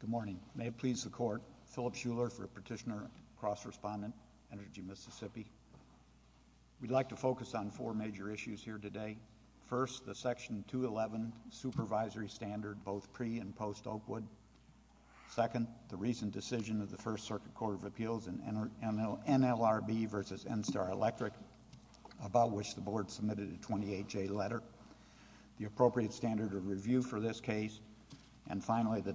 Good morning. May it please the Court, Philip Schuller for Petitioner-Cross Respondent, Energy Mississippi. We'd like to focus on four major issues here today. First, the Section Second, the recent decision of the First Circuit Court of Appeals in NLRB v. NSTAR Electric, about which the Board submitted a 28-J letter, the appropriate standard of review for this case, and finally, the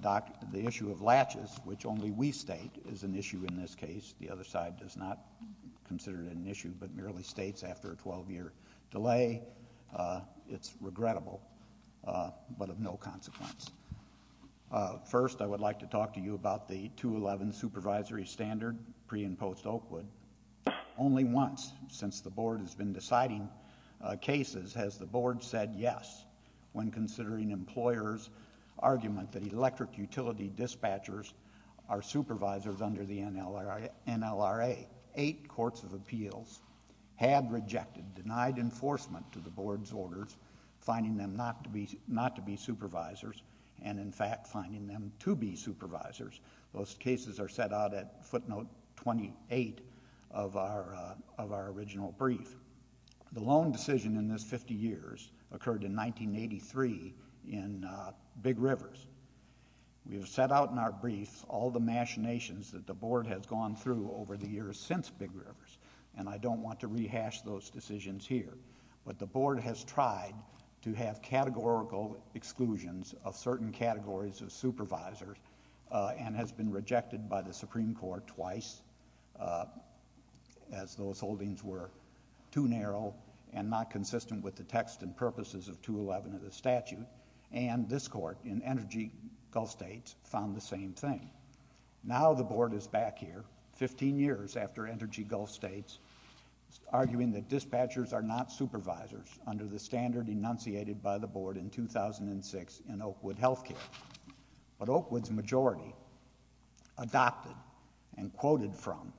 issue of latches, which only we state is an issue in this case. The other side does not consider it an issue, but merely states after a 12-year delay, it's regrettable, but of no consequence. First, I would like to talk to you about the 211 Supervisory Standard, pre- and post-Oakwood. Only once since the Board has been deciding cases has the Board said yes when considering employers' argument that electric utility dispatchers are supervisors under the NLRA. Eight courts of appeals have rejected, denied enforcement to the Board's orders, finding them not to be supervisors and, in fact, finding them to be supervisors. Those cases are set out at footnote 28 of our original brief. The long decision in this 50 years occurred in 1983 in Big Rivers. We have set out in our brief all the machinations that the Board has gone through over the years since Big River, but the Board has tried to have categorical exclusions of certain categories of supervisors and has been rejected by the Supreme Court twice as those holdings were too narrow and not consistent with the text and purposes of 211 of the statute, and this Court in Energy Gulf States found the same thing. Now the Board is back here, 15 years after Energy Gulf States found supervisors under the standard enunciated by the Board in 2006 in Oakwood health care, but Oakwood's majority adopted and quoted from,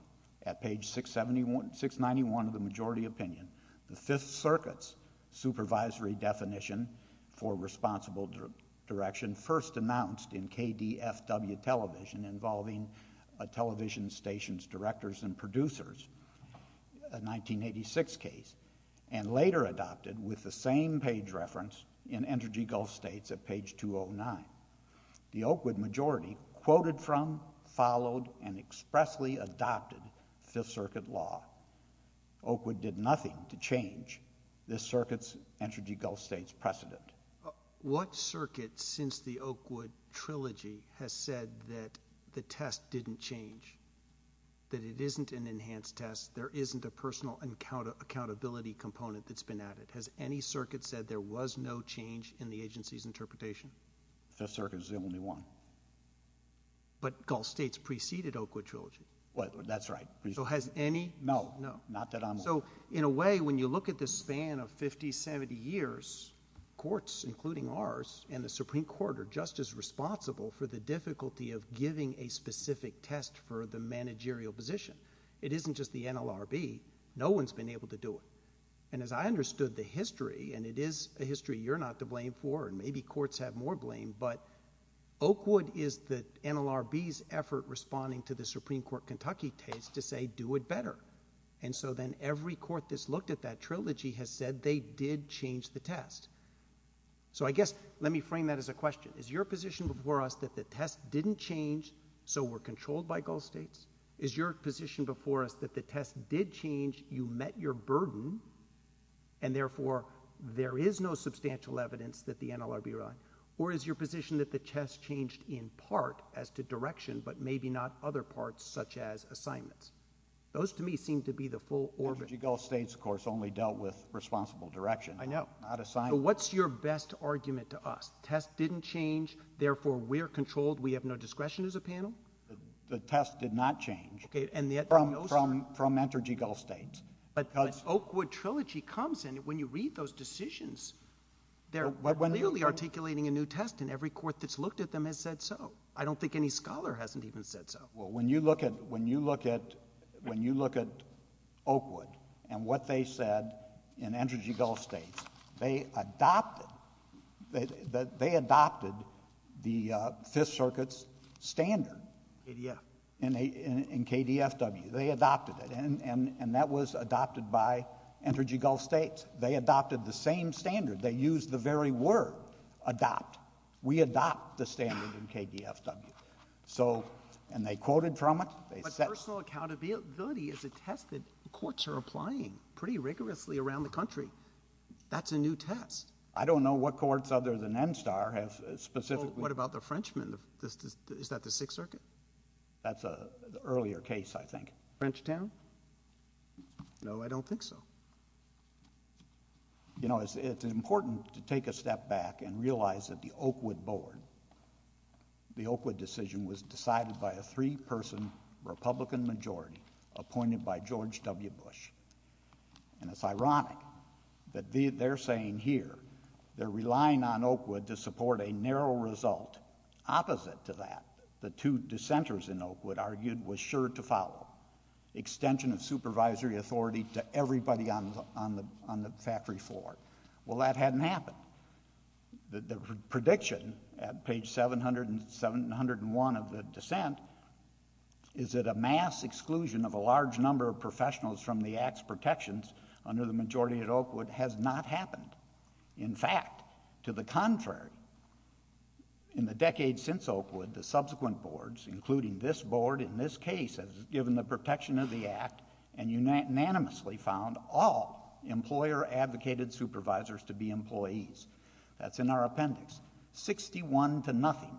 at page 691 of the majority opinion, the Fifth Circuit's supervisory definition for responsible direction first announced in KDFW television involving a television station's directors and producers, a 1986 case, and later adopted with the same page reference in Energy Gulf States at page 209. The Oakwood majority quoted from, followed, and expressly adopted Fifth Circuit law. Oakwood did nothing to change this circuit's Energy Gulf States precedent. What circuit since the Oakwood trilogy has said that the test didn't change, that it didn't change, has any circuit said there was no change in the agency's interpretation? The Fifth Circuit is the only one. But Gulf States preceded Oakwood trilogy. That's right. So has any? No. No. Not that I'm aware of. So in a way, when you look at the span of 50, 70 years, courts, including ours, and the Supreme Court are just as responsible for the difficulty of giving a specific test for the managerial position. It isn't just the NLRB. No one's been able to do it. And as I understood the history, and it is a history you're not to blame for, and maybe courts have more blame, but Oakwood is the NLRB's effort responding to the Supreme Court Kentucky case to say, do it better. And so then every court that's looked at that trilogy has said they did change the test. So I guess, let me frame that as a question. Is your position before us that the test didn't change, so we're controlled by Gulf States? Is your position before us that the test did change, you met your burden, and therefore there is no substantial evidence that the NLRB relied? Or is your position that the test changed in part as to direction, but maybe not other parts such as assignments? Those to me seem to be the full orbit. The Gulf States, of course, only dealt with responsible direction. I know. Not assignments. So what's your best argument to us? The test didn't change, therefore we're controlled, we have no discretion as a panel? The test did not change from Entergy Gulf States. But Oakwood Trilogy comes in, when you read those decisions, they're clearly articulating a new test, and every court that's looked at them has said so. I don't think any scholar hasn't even said so. Well, when you look at, when you look at, when you look at Oakwood and what they said in Entergy Gulf States, they adopted, they adopted the Fifth Circuit's standard. KDF. In KDFW, they adopted it, and that was adopted by Entergy Gulf States. They adopted the same standard. They used the very word, adopt. We adopt the standard in KDFW. So, and they quoted from it, they set— But the legal accountability is a test that courts are applying pretty rigorously around the country. That's a new test. I don't know what courts other than NSTAR have specifically— What about the Frenchmen? Is that the Sixth Circuit? That's an earlier case, I think. Frenchtown? No, I don't think so. You know, it's important to take a step back and realize that the Oakwood board, the Oakwood decision was decided by a three-person Republican majority appointed by George W. Bush. And it's ironic that they're saying here, they're relying on Oakwood to support a narrow result opposite to that the two dissenters in Oakwood argued was sure to follow, extension of supervisory authority to everybody on the, on the, on the factory floor. Well, that hadn't happened. The prediction at page 700 and 701 of the dissent is that a mass exclusion of a large number of professionals from the Act's protections under the majority at Oakwood has not happened. In fact, to the contrary, in the decades since Oakwood, the subsequent boards, including this board in this case, has given the protection of the Act and unanimously found all employer-advocated supervisors to be employees. That's in our appendix. Sixty-one to nothing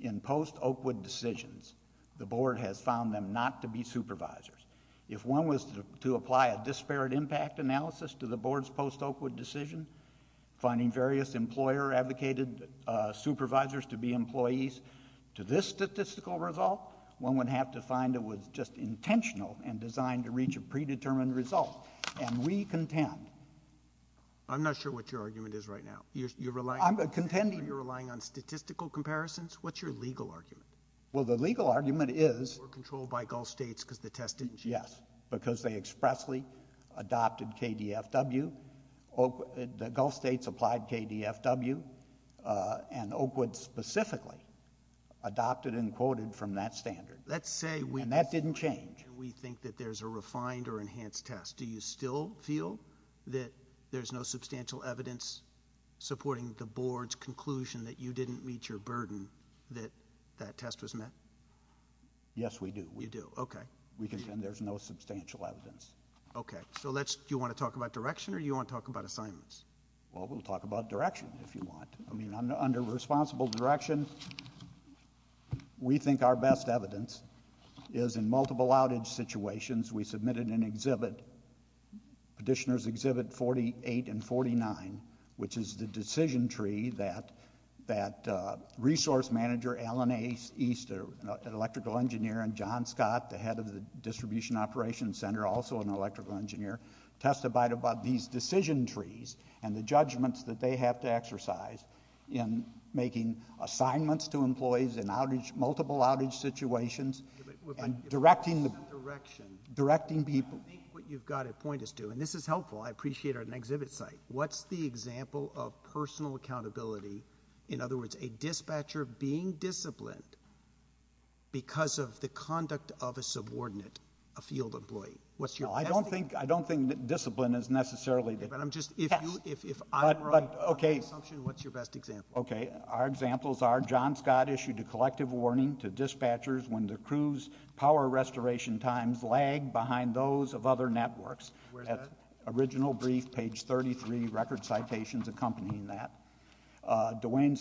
in post-Oakwood decisions, the board has found them not to be supervisors. If one was to apply a disparate impact analysis to the board's post-Oakwood decision, finding various employer-advocated supervisors to be employees to this statistical result, one would have to find it was just intentional and designed to reach a predetermined result. And we contend. I'm not sure what your argument is right now. You're relying on, you're relying on statistical comparisons? What's your legal argument? Well, the legal argument is, You're controlled by Gulf states because the test didn't change. Yes, because they expressly adopted KDFW, the Gulf states applied KDFW, and Oakwood specifically adopted and quoted from that standard. Let's say we And that didn't change. And we think that there's a refined or enhanced test. Do you still feel that there's no substantial evidence supporting the board's conclusion that you didn't meet your burden that that test was met? Yes, we do. You do. Okay. We contend there's no substantial evidence. Okay. So let's, do you want to talk about direction or do you want to talk about assignments? Well, we'll talk about direction if you want. I mean, under responsible direction, we think our best evidence is in multiple outage situations. We submitted an exhibit, Petitioners Exhibit 48 and 49, which is the decision tree that resource manager Alan East, an electrical engineer, and John Scott, the head of the Distribution Operations Center, also an electrical engineer, testified about these decision trees and the judgments that they have to exercise in making assignments to employees in multiple outage situations and directing people. I think what you've got to point us to, and this is helpful, I appreciate our exhibit site, what's the example of personal accountability, in other words, a dispatcher being disciplined because of the conduct of a subordinate, a field employee? What's your best example? I don't think discipline is necessarily the answer. But I'm just, if I'm right, on the assumption, what's your best example? Okay. Our examples are John Scott issued a collective warning to dispatchers when the crew's power restoration times lagged behind those of other networks. Where's that? Original brief, page 33, record citations accompanying that. Dwayne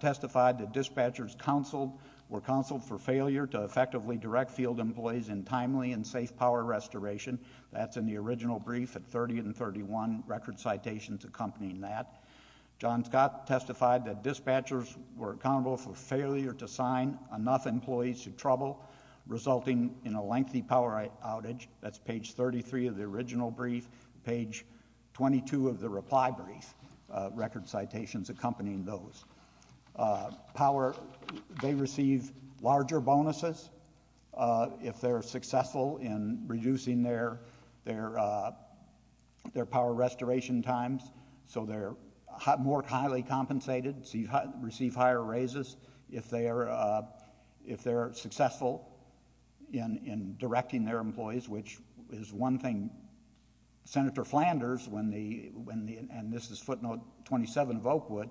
testified that dispatchers were counseled for failure to effectively direct field employees in timely and safe power restoration. That's in the original brief at 30 and 31, record citations accompanying that. John Scott testified that dispatchers were accountable for failure to sign enough employees to trouble, resulting in a lengthy power outage. That's page 33 of the original brief. Page 22 of the reply brief, record citations accompanying those. Power, they receive larger bonuses. If they're successful in reducing their power restoration times, so they're more highly compensated, receive higher raises. If they're successful in directing their employees, which is one thing. Senator Flanders, and this is footnote 27 of Oakwood,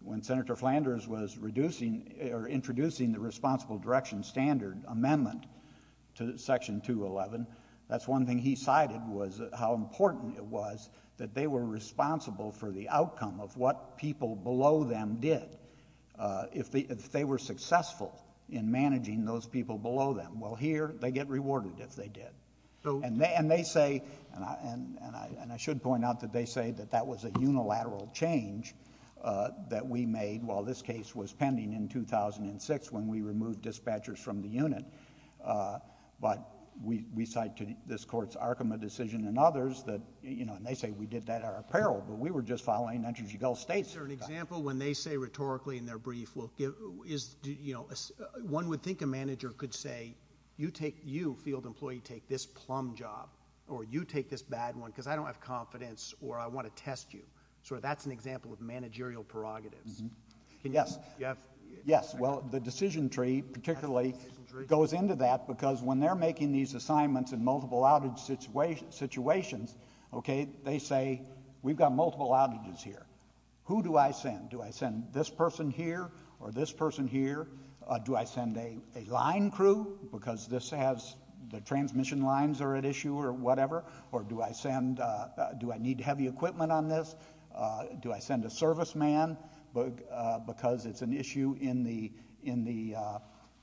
when Senator Flanders was introducing the Responsible Direction Standard Amendment to Section 211, that's one thing he cited was how important it was that they were responsible for the outcome of what people below them did. If they were successful in managing those people below them, well, here, they get rewarded if they did. And they say, and I should point out that they say that that was a unilateral change that we made while this case was pending in 2006 when we removed dispatchers from the unit, but we cite to this Court's Arkema decision and others that, you know, and they say we did that at our apparel, but we were just following Andrew G. Gell State's... Is there an example when they say rhetorically in their brief, well, is, you know, one would think a manager could say, you take, you, field employee, take this plum job, or you take this bad one, because I don't have confidence, or I want to test you, so that's an example of managerial prerogatives. Yes. Yes. Well, the decision tree particularly goes into that because when they're making these assignments in multiple outage situations, okay, they say, we've got multiple outages here. Who do I send? Do I send this person here or this person here? Do I send a line crew because this has, the transmission lines are at issue or whatever? Or do I send, do I need heavy equipment on this? Do I send a serviceman because it's an issue in the, in the,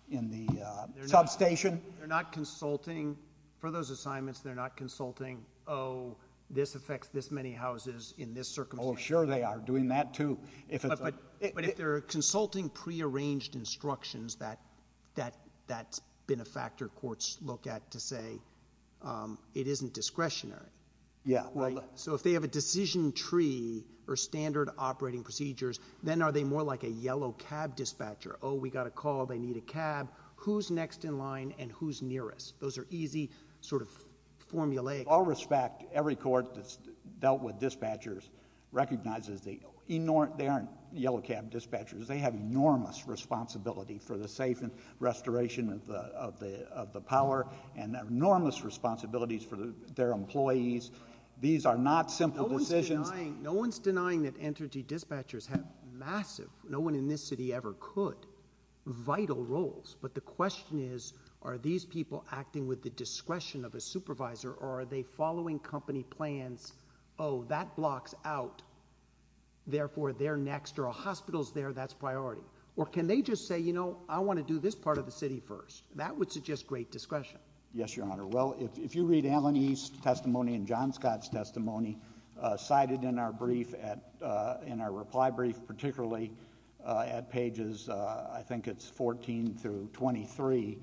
in the... They're not...... substation. They're not consulting. For those assignments, they're not consulting, oh, this affects this many houses in this circumstance. Oh, sure they are doing that, too. If it's a... But if they're consulting prearranged instructions that, that, that's been a factor courts look at to say it isn't discretionary... Yeah. Right? So if they have a decision tree or standard operating procedures, then are they more like a yellow cab dispatcher? Oh, we got a call. They need a cab. Who's next in line and who's nearest? Those are easy sort of formulaic... All respect, every court that's dealt with dispatchers recognizes they, they aren't yellow cab dispatchers. They have enormous responsibility for the safe and restoration of the, of the, of the power and enormous responsibilities for the, their employees. Right. These are not simple decisions... No one's denying, no one's denying that energy dispatchers have massive, no one in this city ever could, vital roles, but the question is, are these people acting with the discretion of a supervisor or are they following company plans, oh, that blocks out, therefore they're next or a hospital's there, that's priority? Or can they just say, you know, I want to do this part of the city first? That would suggest great discretion. Yes, Your Honor. Well, if, if you read Alan East's testimony and John Scott's testimony cited in our brief at, in our reply brief, particularly at pages, I think it's 14 through 23,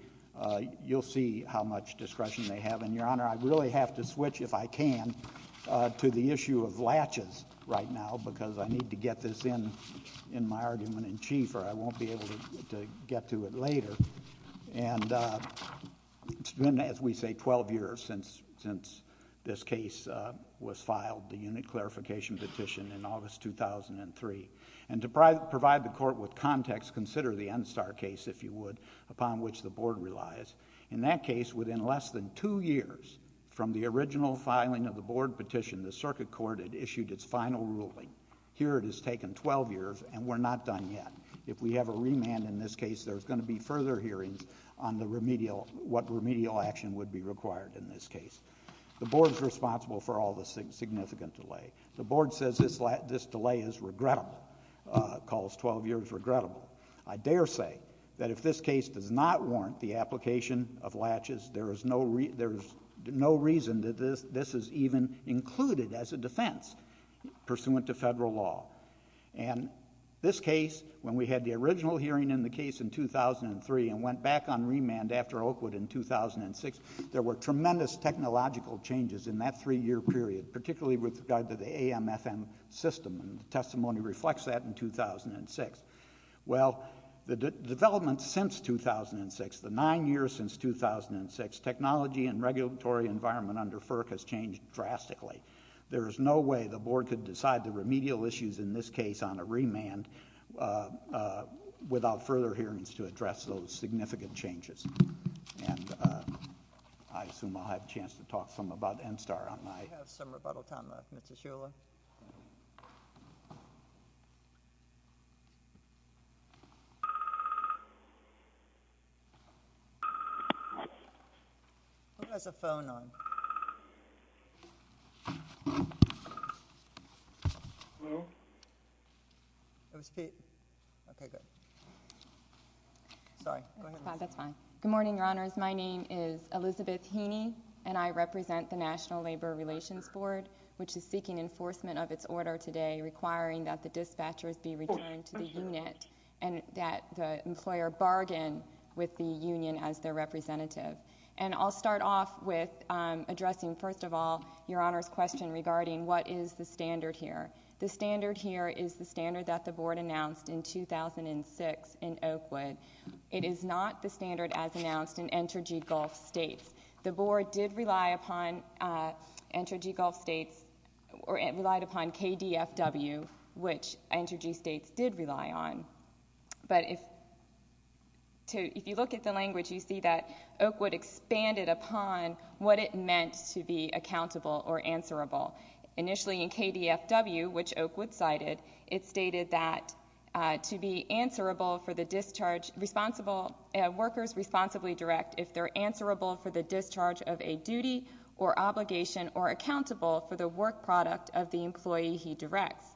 you'll see how much discretion they have. And, Your Honor, I really have to switch, if I can, to the issue of latches right now because I need to get this in, in my argument in chief or I won't be able to, to get to it later. And it's been, as we say, 12 years since, since this case was filed, the unit clarification petition in August 2003. And to provide the court with context, consider the NSTAR case, if you would, upon which the board relies. In that case, within less than two years from the original filing of the board petition, the circuit court had issued its final ruling. Here it has taken 12 years and we're not done yet. If we have a remand in this case, there's going to be further hearings on the remedial, what remedial action would be required in this case. The board's responsible for all the significant delay. The board says this, this delay is regrettable, calls 12 years regrettable. I dare say that if this case does not warrant the application of latches, there is no, there is no reason that this, this is even included as a defense pursuant to federal law. And this case, when we had the original hearing in the case in 2003 and went back on remand after Oakwood in 2006, there were tremendous technological changes in that three-year period, particularly with regard to the AMFM system, and the testimony reflects that in 2006. Well, the development since 2006, the nine years since 2006, technology and regulatory environment under FERC has changed drastically. There is no way the board could decide the remedial issues in this case on a remand without further hearings to address those significant changes. And I assume I'll have a chance to talk some about NSTAR on my... It was Pete. Okay, good. Sorry. Go ahead. That's fine. That's fine. Good morning, Your Honors. My name is Elizabeth Heaney, and I represent the National Labor Relations Board, which is seeking enforcement of its order today requiring that the dispatchers be returned to the unit and that the employer bargain with the union as their representative. And I'll start off with addressing, first of all, Your Honors' question about the is the standard here? The standard here is the standard that the board announced in 2006 in Oakwood. It is not the standard as announced in Entergy Gulf States. The board did rely upon Entergy Gulf States, or it relied upon KDFW, which Entergy States did rely on. But if you look at the language, you see that Oakwood expanded upon what it meant to be accountable or answerable. Initially in KDFW, which Oakwood cited, it stated that to be answerable for the discharge... responsible... workers responsibly direct if they're answerable for the discharge of a duty or obligation or accountable for the work product of the employee he directs.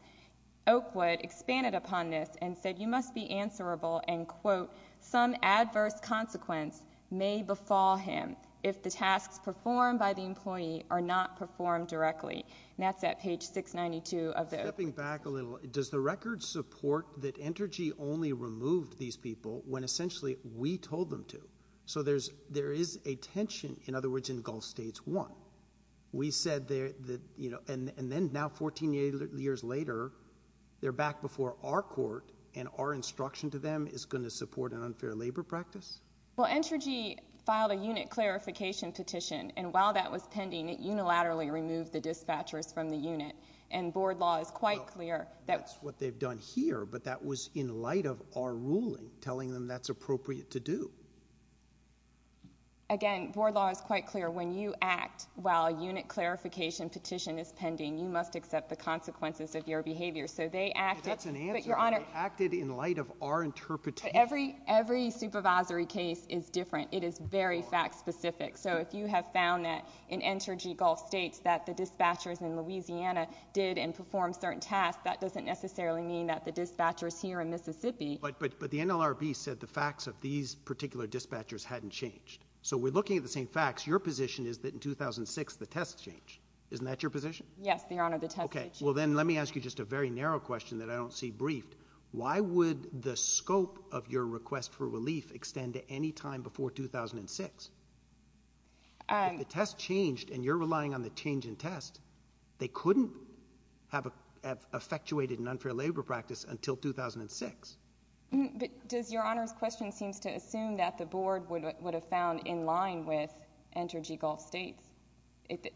Oakwood expanded upon this and said you must be answerable and, quote, some adverse consequence may befall him if the tasks performed by the employee are not performed directly. And that's at page 692 of the... Stepping back a little, does the record support that Entergy only removed these people when essentially we told them to? So there is a tension, in other words, in Gulf States 1. We said that, you know, and then now 14 years later, they're back before our court and our instruction to them is going to support an unfair labor practice? Well, Entergy filed a unit clarification petition, and while that was pending, it unilaterally removed the dispatchers from the unit. And board law is quite clear... Well, that's what they've done here, but that was in light of our ruling telling them that's appropriate to do. Again, board law is quite clear. When you act while a unit clarification petition is pending, you must accept the consequences of your behavior. So they acted... That's an answer. But, Your Honor... They acted in light of our interpretation. But every, every supervisory case is different. It is very fact-specific. So if you have found that in Entergy Gulf States that the dispatchers in Louisiana did and performed certain tasks, that doesn't necessarily mean that the dispatchers here in Mississippi... But, but, but the NLRB said the facts of these particular dispatchers hadn't changed. So we're looking at the same facts. Your position is that in 2006, the tests changed. Isn't that your position? Yes, Your Honor, the tests... Okay. Well, then let me ask you just a very narrow question that I don't see briefed. Why would the scope of your request for relief extend to any time before 2006? Um... If the test changed and you're relying on the change in test, they couldn't have effectuated an unfair labor practice until 2006. But does Your Honor's question seems to assume that the Board would have found in line with Entergy Gulf States,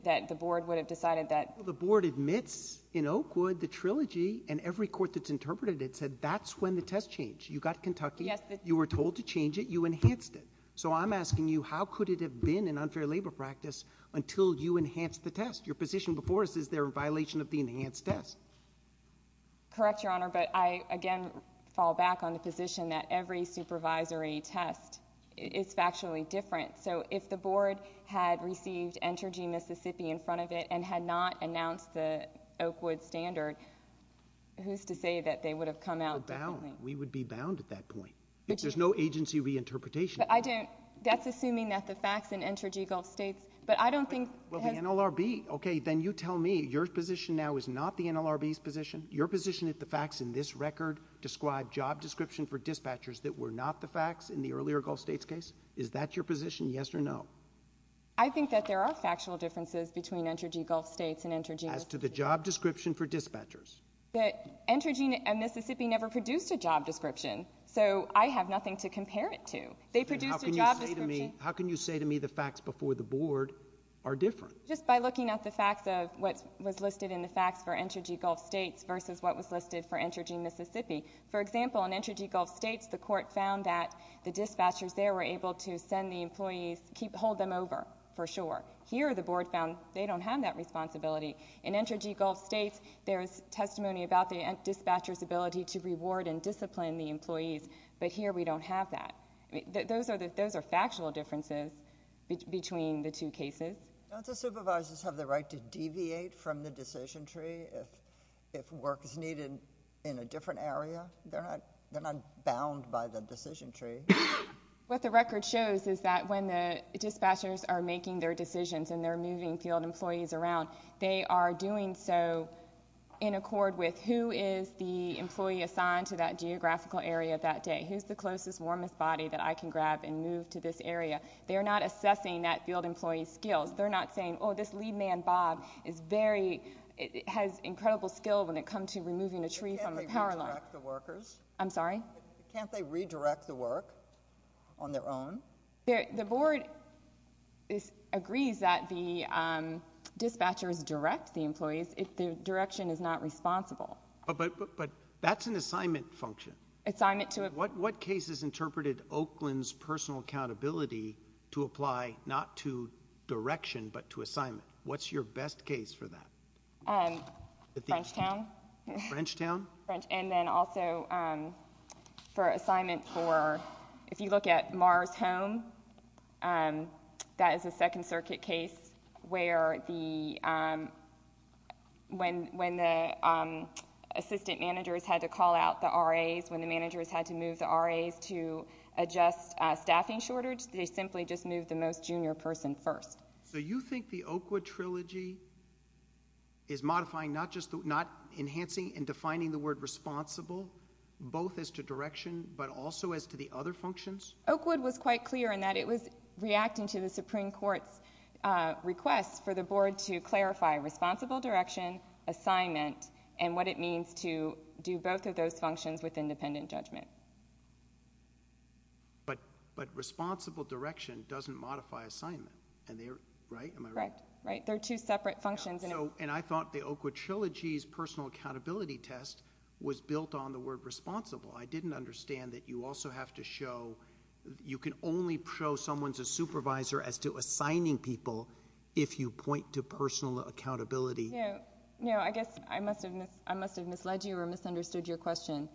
that the Board would have decided that... Well, the Board admits in Oakwood, the Trilogy and every court that's interpreted it said that's when the test changed. You got Kentucky... Yes, the... You were told to change it. You enhanced it. So I'm asking you, how could it have been an unfair labor practice until you enhanced the test? Your position before us, is there a violation of the enhanced test? Correct, Your Honor, but I, again, fall back on the position that every supervisory test is factually different. So, if the Board had received Entergy Mississippi in front of it and had not announced the Oakwood standard, who's to say that they would have come out differently? We're bound. We would be bound at that point. But you... There's no agency reinterpretation. But I don't... That's assuming that the facts in Entergy Gulf States, but I don't think... Well, the NLRB, okay, then you tell me, your position now is not the NLRB's position? Your position is the facts in this record describe job description for dispatchers that were not the facts in the earlier Gulf States case? Is that your position, yes or no? I think that there are factual differences between Entergy Gulf States and Entergy Mississippi. As to the job description for dispatchers? That Entergy Mississippi never produced a job description, so I have nothing to compare it to. They produced a job description... Then how can you say to me, how can you say to me the facts before the Board are different? Just by looking at the facts of what was listed in the facts for Entergy Gulf States versus what was listed for Entergy Mississippi. For example, in Entergy Gulf States, the court found that the dispatchers there were able to send the employees, hold them over for sure. Here the Board found they don't have that responsibility. In Entergy Gulf States, there is testimony about the dispatcher's ability to reward and discipline the employees, but here we don't have that. Those are factual differences between the two cases. Don't the supervisors have the right to deviate from the decision tree if work is needed in a different area? They're not bound by the decision tree. What the record shows is that when the dispatchers are making their decisions and they're moving field employees around, they are doing so in accord with who is the employee assigned to that geographical area that day. Who's the closest, warmest body that I can grab and move to this area? They're not assessing that field employee's skills. They're not saying, oh, this lead man, Bob, is very... has incredible skill when it comes to that. Can't they redirect the workers? I'm sorry? Can't they redirect the work on their own? The Board agrees that the dispatchers direct the employees if the direction is not responsible. But that's an assignment function. What cases interpreted Oakland's personal accountability to apply not to direction but to assignment? What's your best case for that? Frenchtown. Frenchtown? Frenchtown. And then also for assignment for... if you look at Mars Home, that is a Second Circuit case where the... when the assistant managers had to call out the RAs, when the managers had to move the RAs to adjust staffing shortage, they simply just moved the most junior person first. So you think the Oakwood Trilogy is modifying, not just the... not enhancing and defining the word responsible, both as to direction but also as to the other functions? Oakwood was quite clear in that it was reacting to the Supreme Court's request for the Board to clarify responsible direction, assignment, and what it means to do both of those functions with independent judgment. But responsible direction doesn't modify assignment, and they're... right? Am I right? Correct. Right. They're two separate functions. And I thought the Oakwood Trilogy's personal accountability test was built on the word responsible. I didn't understand that you also have to show... you can only show someone's a supervisor as to assigning people if you point to personal accountability. Yeah. I guess I must have misled you or misunderstood your question.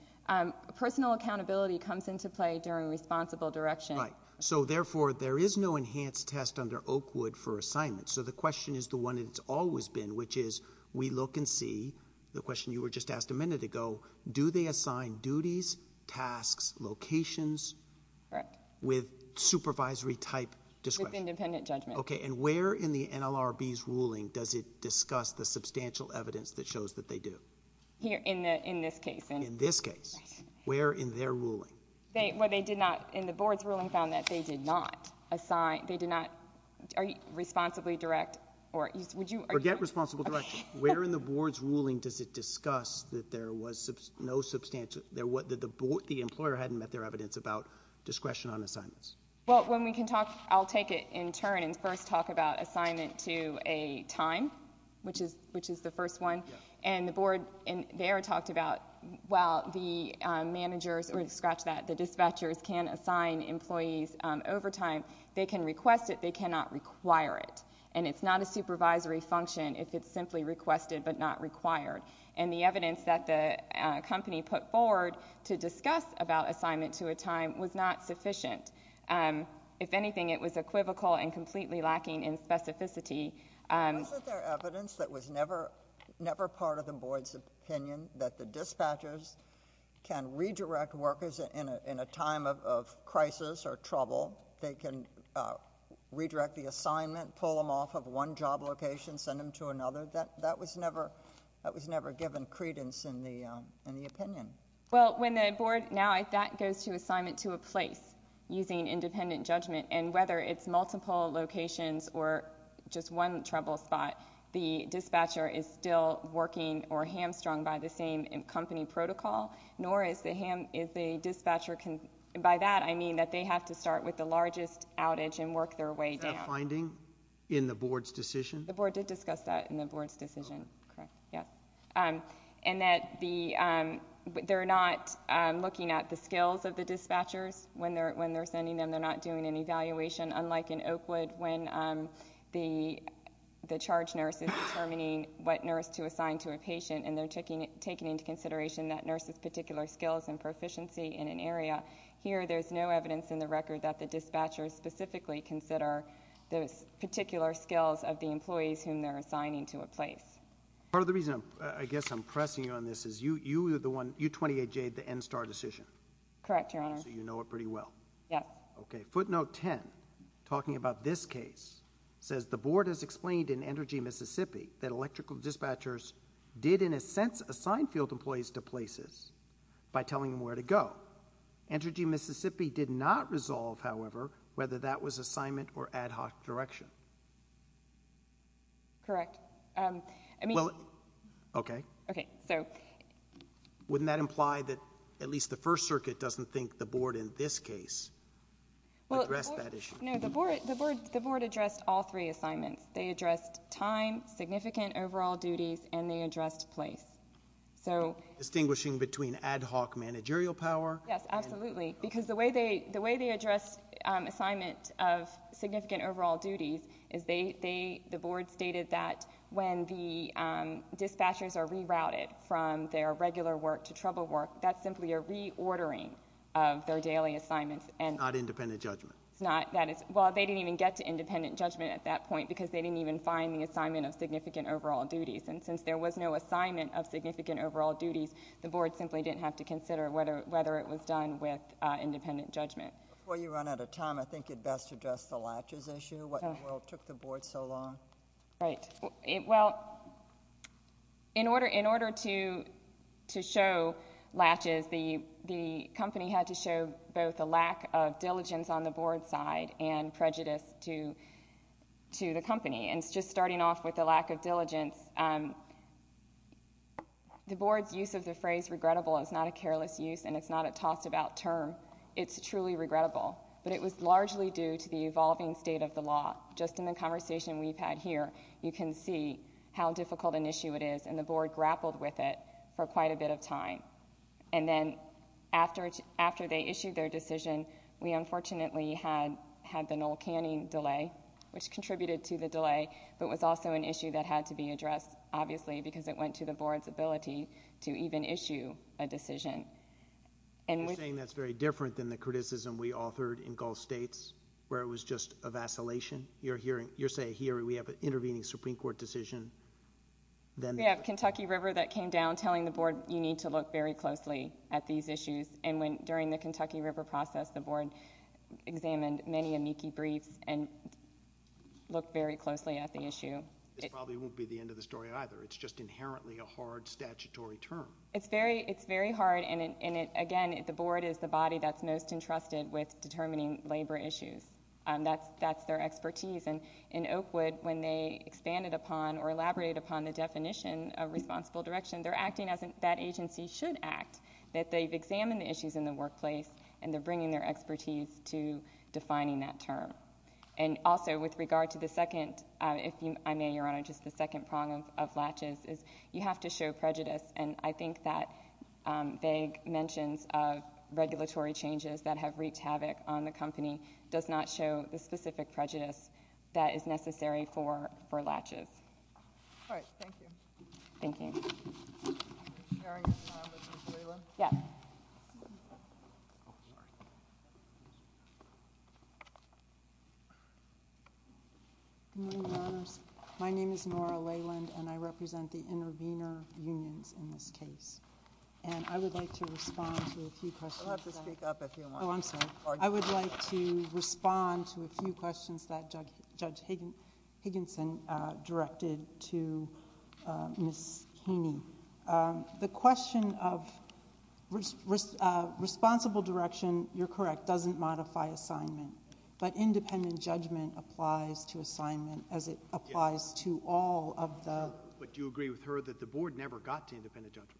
Personal accountability comes into play during responsible direction. Right. So therefore, there is no enhanced test under Oakwood for assignment. So the question is the one that it's always been, which is we look and see... the question you were just asked a minute ago... do they assign duties, tasks, locations... Correct.... with supervisory type discretion? With independent judgment. Okay. And where in the NLRB's ruling does it discuss the substantial evidence that shows that they do? In this case. In this case. Right. Where in their ruling? They... where they did not... in the board's ruling found that they did not assign... they did not... are you responsibly direct or would you... Forget responsible direction. Okay. Where in the board's ruling does it discuss that there was no substantial... that the employer hadn't met their evidence about discretion on assignments? Well, when we can talk... I'll take it in turn and first talk about assignment to a time, which is the first one. Yes. And the board there talked about, well, the managers... or to scratch that, the dispatchers can assign employees overtime. They can request it. They cannot require it. And it's not a supervisory function if it's simply requested but not required. And the evidence that the company put forward to discuss about assignment to a time was not sufficient. If anything, it was equivocal and completely lacking in specificity... Isn't there evidence that was never... never part of the board's opinion that the dispatchers can redirect workers in a time of crisis or trouble? They can redirect the assignment, pull them off of one job location, send them to another? That was never... that was never given credence in the opinion. Well, when the board... now that goes to assignment to a place using independent judgment and whether it's multiple locations or just one trouble spot, the dispatcher is still working or hamstrung by the same company protocol, nor is the ham... is the dispatcher... by that, I mean that they have to start with the largest outage and work their way down. Is that a finding in the board's decision? The board did discuss that in the board's decision, correct, yes. And that the... they're not looking at the skills of the dispatchers when they're sending them. They're not doing an evaluation, unlike in Oakwood when the charge nurse is determining what nurse to assign to a patient and they're taking into consideration that nurse's particular skills and proficiency in an area. Here there's no evidence in the record that the dispatchers specifically consider those particular skills of the employees whom they're assigning to a place. Part of the reason I guess I'm pressing you on this is you... you were the one... you 28J'd the NSTAR decision. Correct, Your Honor. So you know it pretty well. Yes. Okay. Footnote 10, talking about this case, says the board has explained in Entergy, Mississippi that electrical dispatchers did in a sense assign field employees to places by telling them where to go. Entergy, Mississippi did not resolve, however, whether that was assignment or ad hoc direction. Correct. I mean... Okay. Okay. So... So wouldn't that imply that at least the First Circuit doesn't think the board in this case addressed that issue? No. The board addressed all three assignments. They addressed time, significant overall duties, and they addressed place. So... Distinguishing between ad hoc managerial power... Yes. Absolutely. Because the way they addressed assignment of significant overall duties is they... the dispatchers are rerouted from their regular work to trouble work. That's simply a reordering of their daily assignments and... It's not independent judgment. It's not. That is... Well, they didn't even get to independent judgment at that point because they didn't even find the assignment of significant overall duties. And since there was no assignment of significant overall duties, the board simply didn't have to consider whether it was done with independent judgment. Before you run out of time, I think you'd best address the latches issue, what in the world took the board so long? Right. Well, in order to show latches, the company had to show both a lack of diligence on the board side and prejudice to the company. And just starting off with the lack of diligence, the board's use of the phrase regrettable is not a careless use and it's not a tossed about term. It's truly regrettable. But it was largely due to the evolving state of the law. Just in the conversation we've had here, you can see how difficult an issue it is and the board grappled with it for quite a bit of time. And then after they issued their decision, we unfortunately had the Noel Canning delay, which contributed to the delay, but was also an issue that had to be addressed, obviously, because it went to the board's ability to even issue a decision. You're saying that's very different than the criticism we authored in Gulf States where it was just a vacillation? You're saying here we have an intervening Supreme Court decision? We have Kentucky River that came down telling the board you need to look very closely at these issues. And during the Kentucky River process, the board examined many amici briefs and looked very closely at the issue. This probably won't be the end of the story either. It's just inherently a hard statutory term. It's very hard and, again, the board is the body that's most entrusted with determining labor issues. That's their expertise. And in Oakwood, when they expanded upon or elaborated upon the definition of responsible direction, they're acting as if that agency should act, that they've examined the issues in the workplace and they're bringing their expertise to defining that term. And also, with regard to the second, if I may, Your Honor, just the second prong of latches is you have to show prejudice, and I think that vague mentions of regulatory changes that have wreaked havoc on the company does not show the specific prejudice that is necessary for latches. All right. Thank you. Thank you. Sharing a time with Ms. Leyland? Yeah. Good morning, Your Honors. My name is Nora Leyland and I represent the intervener unions in this case. And I would like to respond to a few questions. I would like to respond to a few questions that Judge Higginson directed to Ms. Keeney. The question of responsible direction, you're correct, doesn't modify assignment, but independent judgment applies to assignment as it applies to all of the... But do you agree with her that the board never got to independent judgment?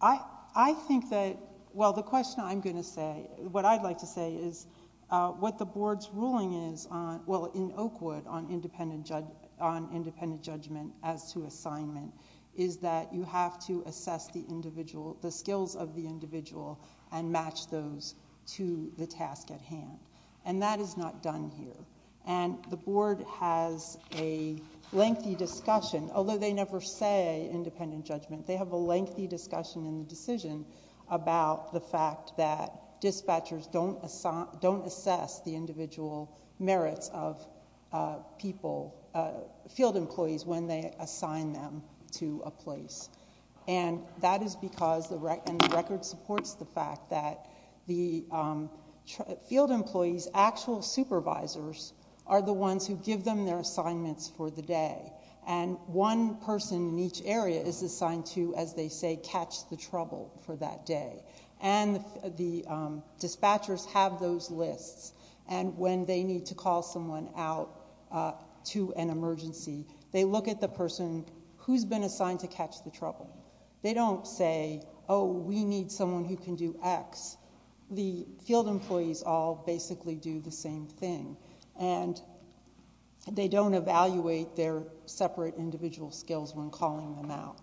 I think that... Well, the question I'm going to say, what I'd like to say is what the board's ruling is, well, in Oakwood, on independent judgment as to assignment, is that you have to assess the individual, the skills of the individual, and match those to the task at hand. And that is not done here. And the board has a lengthy discussion, although they never say independent judgment. They have a lengthy discussion in the decision about the fact that dispatchers don't assess the individual merits of people, field employees, when they assign them to a place. And that is because the record supports the fact that the field employees' actual supervisors are the ones who give them their assignments for the day. And one person in each area is assigned to, as they say, catch the trouble for that day. And the dispatchers have those lists. And when they need to call someone out to an emergency, they look at the person who's been assigned to catch the trouble. They don't say, oh, we need someone who can do X. The field employees all basically do the same thing. And they don't evaluate their separate individual skills when calling them out.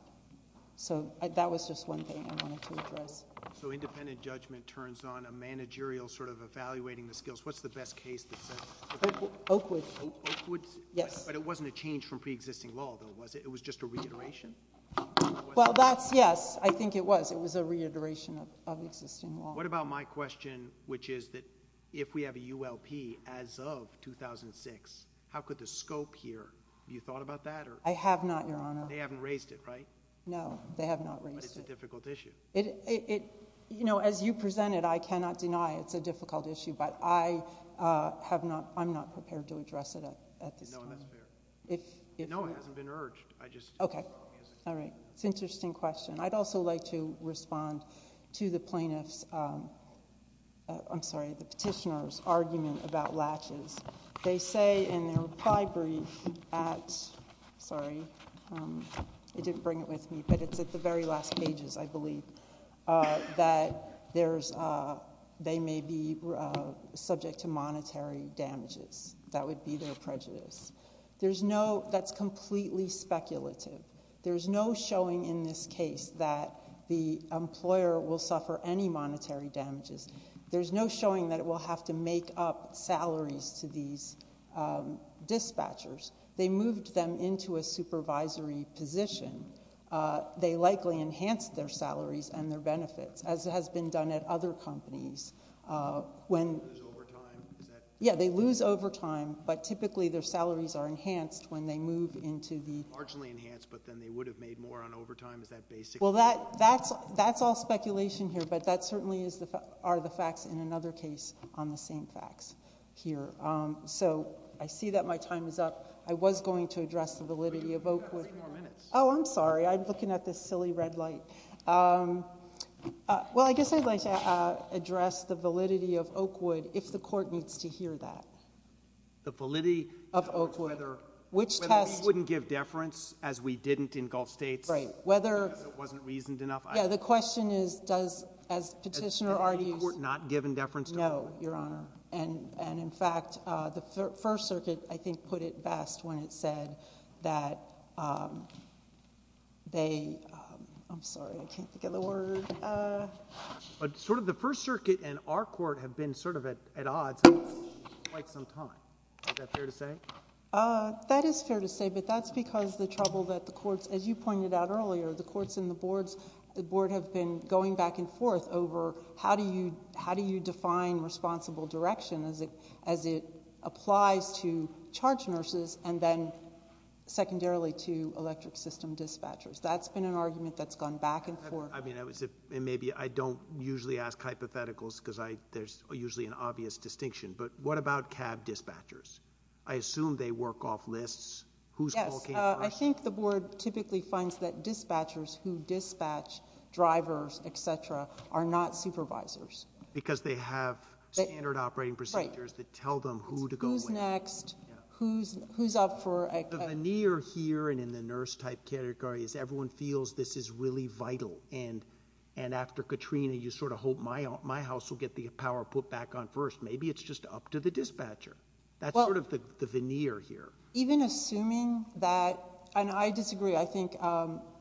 So that was just one thing I wanted to address. So independent judgment turns on a managerial sort of evaluating the skills. What's the best case that says... Oakwood. Oakwood. Oakwood? Yes. But it wasn't a change from pre-existing law, though, was it? It was just a reiteration? Well, that's, yes. I think it was. It was a reiteration of existing law. What about my question, which is that if we have a ULP as of 2006, how could the scope here... have you thought about that? I have not, Your Honor. They haven't raised it, right? No. They have not raised it. But it's a difficult issue. It... you know, as you presented, I cannot deny it's a difficult issue. But I have not... I'm not prepared to address it at this time. No, and that's fair. If... No, it hasn't been urged. I just... Okay. All right. It's an interesting question. I'd also like to respond to the plaintiff's... I'm sorry, the petitioner's argument about latches. They say in their reply brief at... sorry, they didn't bring it with me, but it's at the very last pages, I believe, that there's... they may be subject to monetary damages. That would be their prejudice. There's no... that's completely speculative. There's no showing in this case that the employer will suffer any monetary damages. There's no showing that it will have to make up salaries to these dispatchers. They moved them into a supervisory position. They likely enhanced their salaries and their benefits, as has been done at other companies. When... Lose overtime? Is that... Yeah, they lose overtime, but typically their salaries are enhanced when they move into the... They're marginally enhanced, but then they would have made more on overtime. Is that basically... Well, that's all speculation here, but that certainly is the... are the facts in another case on the same facts here. So I see that my time is up. I was going to address the validity of Oakwood... You've got three more minutes. Oh, I'm sorry. I'm looking at this silly red light. Well, I guess I'd like to address the validity of Oakwood, if the Court needs to hear that. The validity of Oakwood... Whether... Which test... We wouldn't give deference, as we didn't in Gulf States... Right. Whether... Because it wasn't reasoned enough. Yeah, the question is, does... as Petitioner argues... Has any Court not given deference to Oakwood? No, Your Honor, and in fact, the First Circuit, I think, put it best when it said that they... I'm sorry, I can't think of the word. But sort of the First Circuit and our Court have been sort of at odds for quite some time. Is that fair to say? That is fair to say, but that's because the trouble that the Courts... as you pointed out earlier, the Courts and the Boards... the Board have been going back and forth over how do you define responsible direction as it applies to charge nurses and then secondarily to electric system dispatchers. That's been an argument that's gone back and forth... I mean, I would say... and maybe I don't usually ask hypotheticals because I... there's usually an obvious distinction, but what about cab dispatchers? I assume they work off lists. Whose call came first? Yes. I think the Board typically finds that dispatchers who dispatch drivers, et cetera, are not supervisors. Because they have standard operating procedures that tell them who to go... Who's next? Yeah. Who's up for... The veneer here and in the nurse-type category is everyone feels this is really vital and after Katrina, you sort of hope my house will get the power put back on first. Maybe it's just up to the dispatcher. Well... That's sort of the veneer here. Even assuming that... and I disagree. I think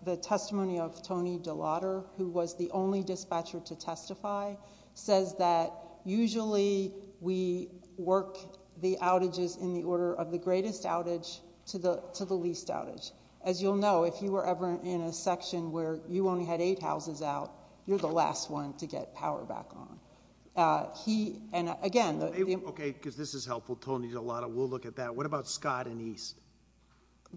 the testimony of Tony DeLotta, who was the only dispatcher to testify, says that usually we work the outages in the order of the greatest outage to the least outage. As you'll know, if you were ever in a section where you only had eight houses out, you're the last one to get power back on. He... and again... Okay. Because this is helpful. Tony DeLotta will look at that. What about Scott and East?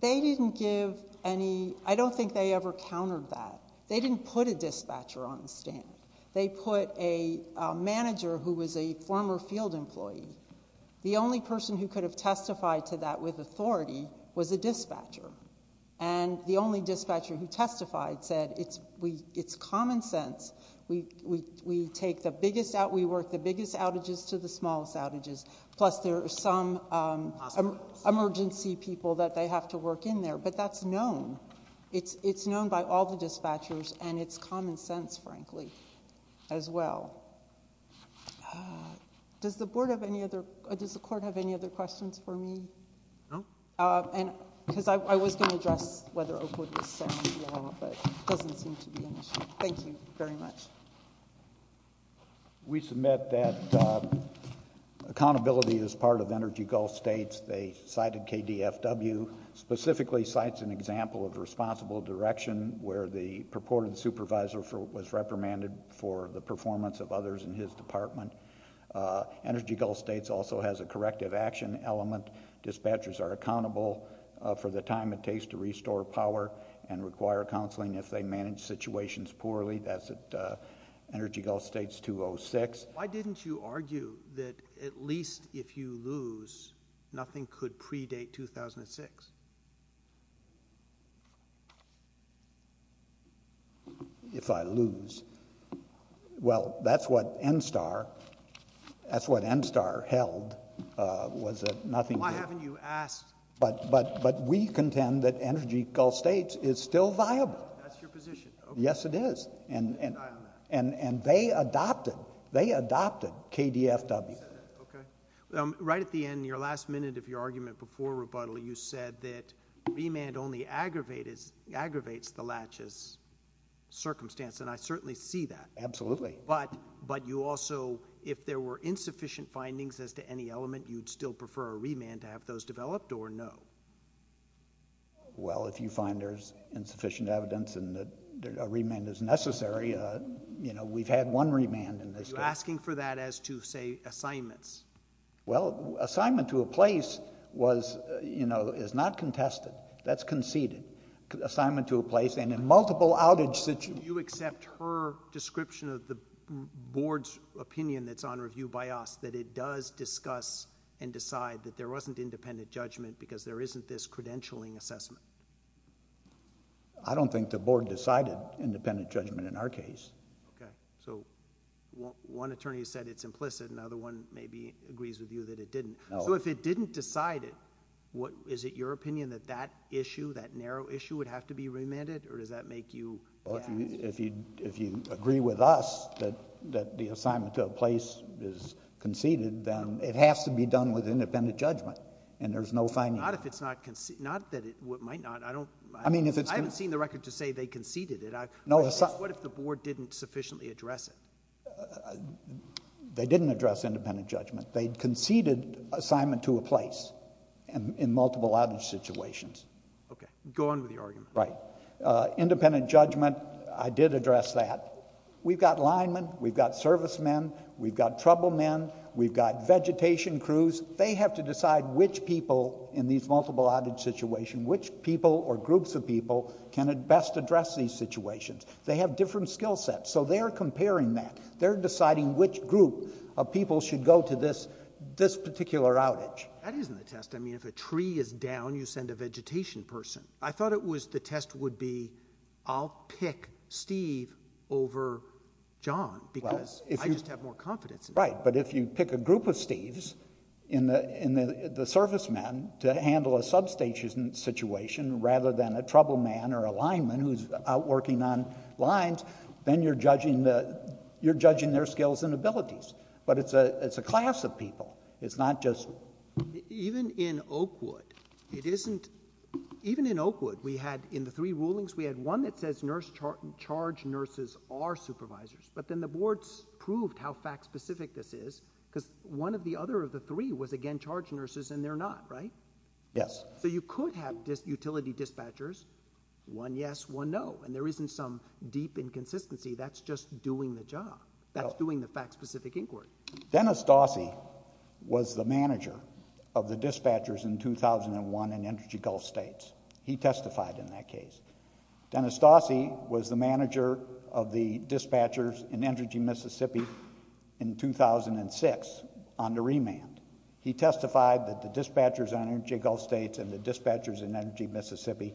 They didn't give any... I don't think they ever countered that. They didn't put a dispatcher on the stand. They put a manager who was a former field employee. The only person who could have testified to that with authority was a dispatcher. The only dispatcher who testified said, it's common sense. We take the biggest... we work the biggest outages to the smallest outages. Plus there are some emergency people that they have to work in there, but that's known. It's known by all the dispatchers, and it's common sense, frankly, as well. Does the Board have any other... does the Court have any other questions for me? No. Because I was going to address whether Oakwood was setting the law, but it doesn't seem to be an issue. Thank you very much. We submit that accountability is part of Energy Gulf States. They cited KDFW, specifically cites an example of responsible direction where the purported supervisor was reprimanded for the performance of others in his department. Energy Gulf States also has a corrective action element. Dispatchers are accountable for the time it takes to restore power and require counseling if they manage situations poorly. That's at Energy Gulf States 206. Why didn't you argue that at least if you lose, nothing could predate 2006? If I lose... well, that's what NSTAR... that's what NSTAR held was that nothing... Why haven't you asked? But we contend that Energy Gulf States is still viable. That's your position? Yes, it is. And they adopted... they adopted KDFW. Right at the end, your last minute of your argument before rebuttal, you said that remand only aggravates the latches circumstance, and I certainly see that. Absolutely. But you also... if there were insufficient findings as to any element, you'd still prefer a remand to have those developed or no? Well, if you find there's insufficient evidence and that a remand is necessary, you know, we've had one remand in this case. Are you asking for that as to, say, assignments? Well, assignment to a place was, you know, is not contested. That's conceded. Assignment to a place and in multiple outage... Do you accept her description of the board's opinion that's on review by us that it does not discuss and decide that there wasn't independent judgment because there isn't this credentialing assessment? I don't think the board decided independent judgment in our case. Okay. So, one attorney said it's implicit, another one maybe agrees with you that it didn't. No. So if it didn't decide it, what... is it your opinion that that issue, that narrow issue would have to be remanded or does that make you... Well, if you agree with us that the assignment to a place is conceded, then it has to be done with independent judgment and there's no finding... Not if it's not conceded. Not that it might not. I don't... I mean, if it's... I haven't seen the record to say they conceded it. I... No. What if the board didn't sufficiently address it? They didn't address independent judgment. They conceded assignment to a place in multiple outage situations. Okay. Go on with your argument. Right. Independent judgment, I did address that. We've got linemen, we've got servicemen, we've got troublemen, we've got vegetation crews. They have to decide which people in these multiple outage situations, which people or groups of people can best address these situations. They have different skill sets, so they're comparing that. They're deciding which group of people should go to this particular outage. That isn't the test. I mean, if a tree is down, you send a vegetation person. I thought it was... The test would be, I'll pick Steve over John, because I just have more confidence in him. Right. But if you pick a group of Steves in the servicemen to handle a substation situation, rather than a troubleman or a lineman who's out working on lines, then you're judging the... you're judging their skills and abilities. But it's a class of people. It's not just... Even in Oakwood, we had, in the three rulings, we had one that says charge nurses are supervisors, but then the boards proved how fact-specific this is, because one of the other of the three was, again, charge nurses, and they're not, right? Yes. So you could have utility dispatchers, one yes, one no, and there isn't some deep inconsistency. That's just doing the job. That's doing the fact-specific inquiry. Dennis Dossie was the manager of the dispatchers in 2001 in Energy Gulf States. He testified in that case. Dennis Dossie was the manager of the dispatchers in Energy Mississippi in 2006, under remand. He testified that the dispatchers on Energy Gulf States and the dispatchers in Energy Mississippi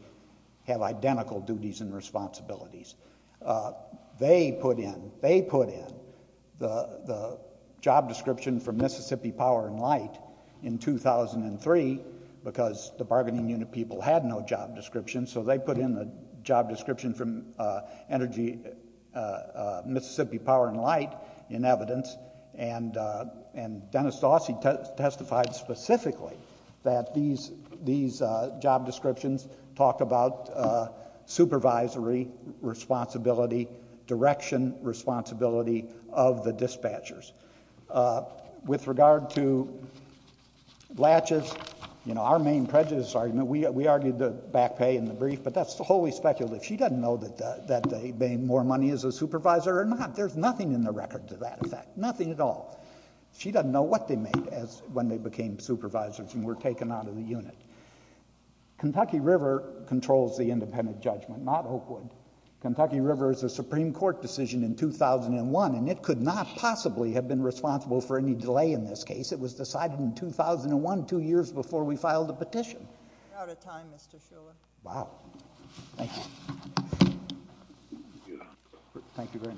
have identical duties and responsibilities. They put in the job description from Mississippi Power and Light in 2003, because the bargaining unit people had no job description, so they put in the job description from Energy Mississippi Power and Light in evidence, and Dennis Dossie testified specifically that these job descriptions talked about supervisory responsibility, direction responsibility of the dispatchers. With regard to latches, you know, our main prejudice argument, we argued the back pay in the brief, but that's wholly speculative. She doesn't know that they made more money as a supervisor or not. There's nothing in the record to that effect, nothing at all. She doesn't know what they made when they became supervisors and were taken out of the unit. Kentucky River controls the independent judgment, not Oakwood. Kentucky River is a Supreme Court decision in 2001, and it could not possibly have been responsible for any delay in this case. It was decided in 2001, two years before we filed the petition. We're out of time, Mr. Shuler. Wow. Thank you. Thank you very much.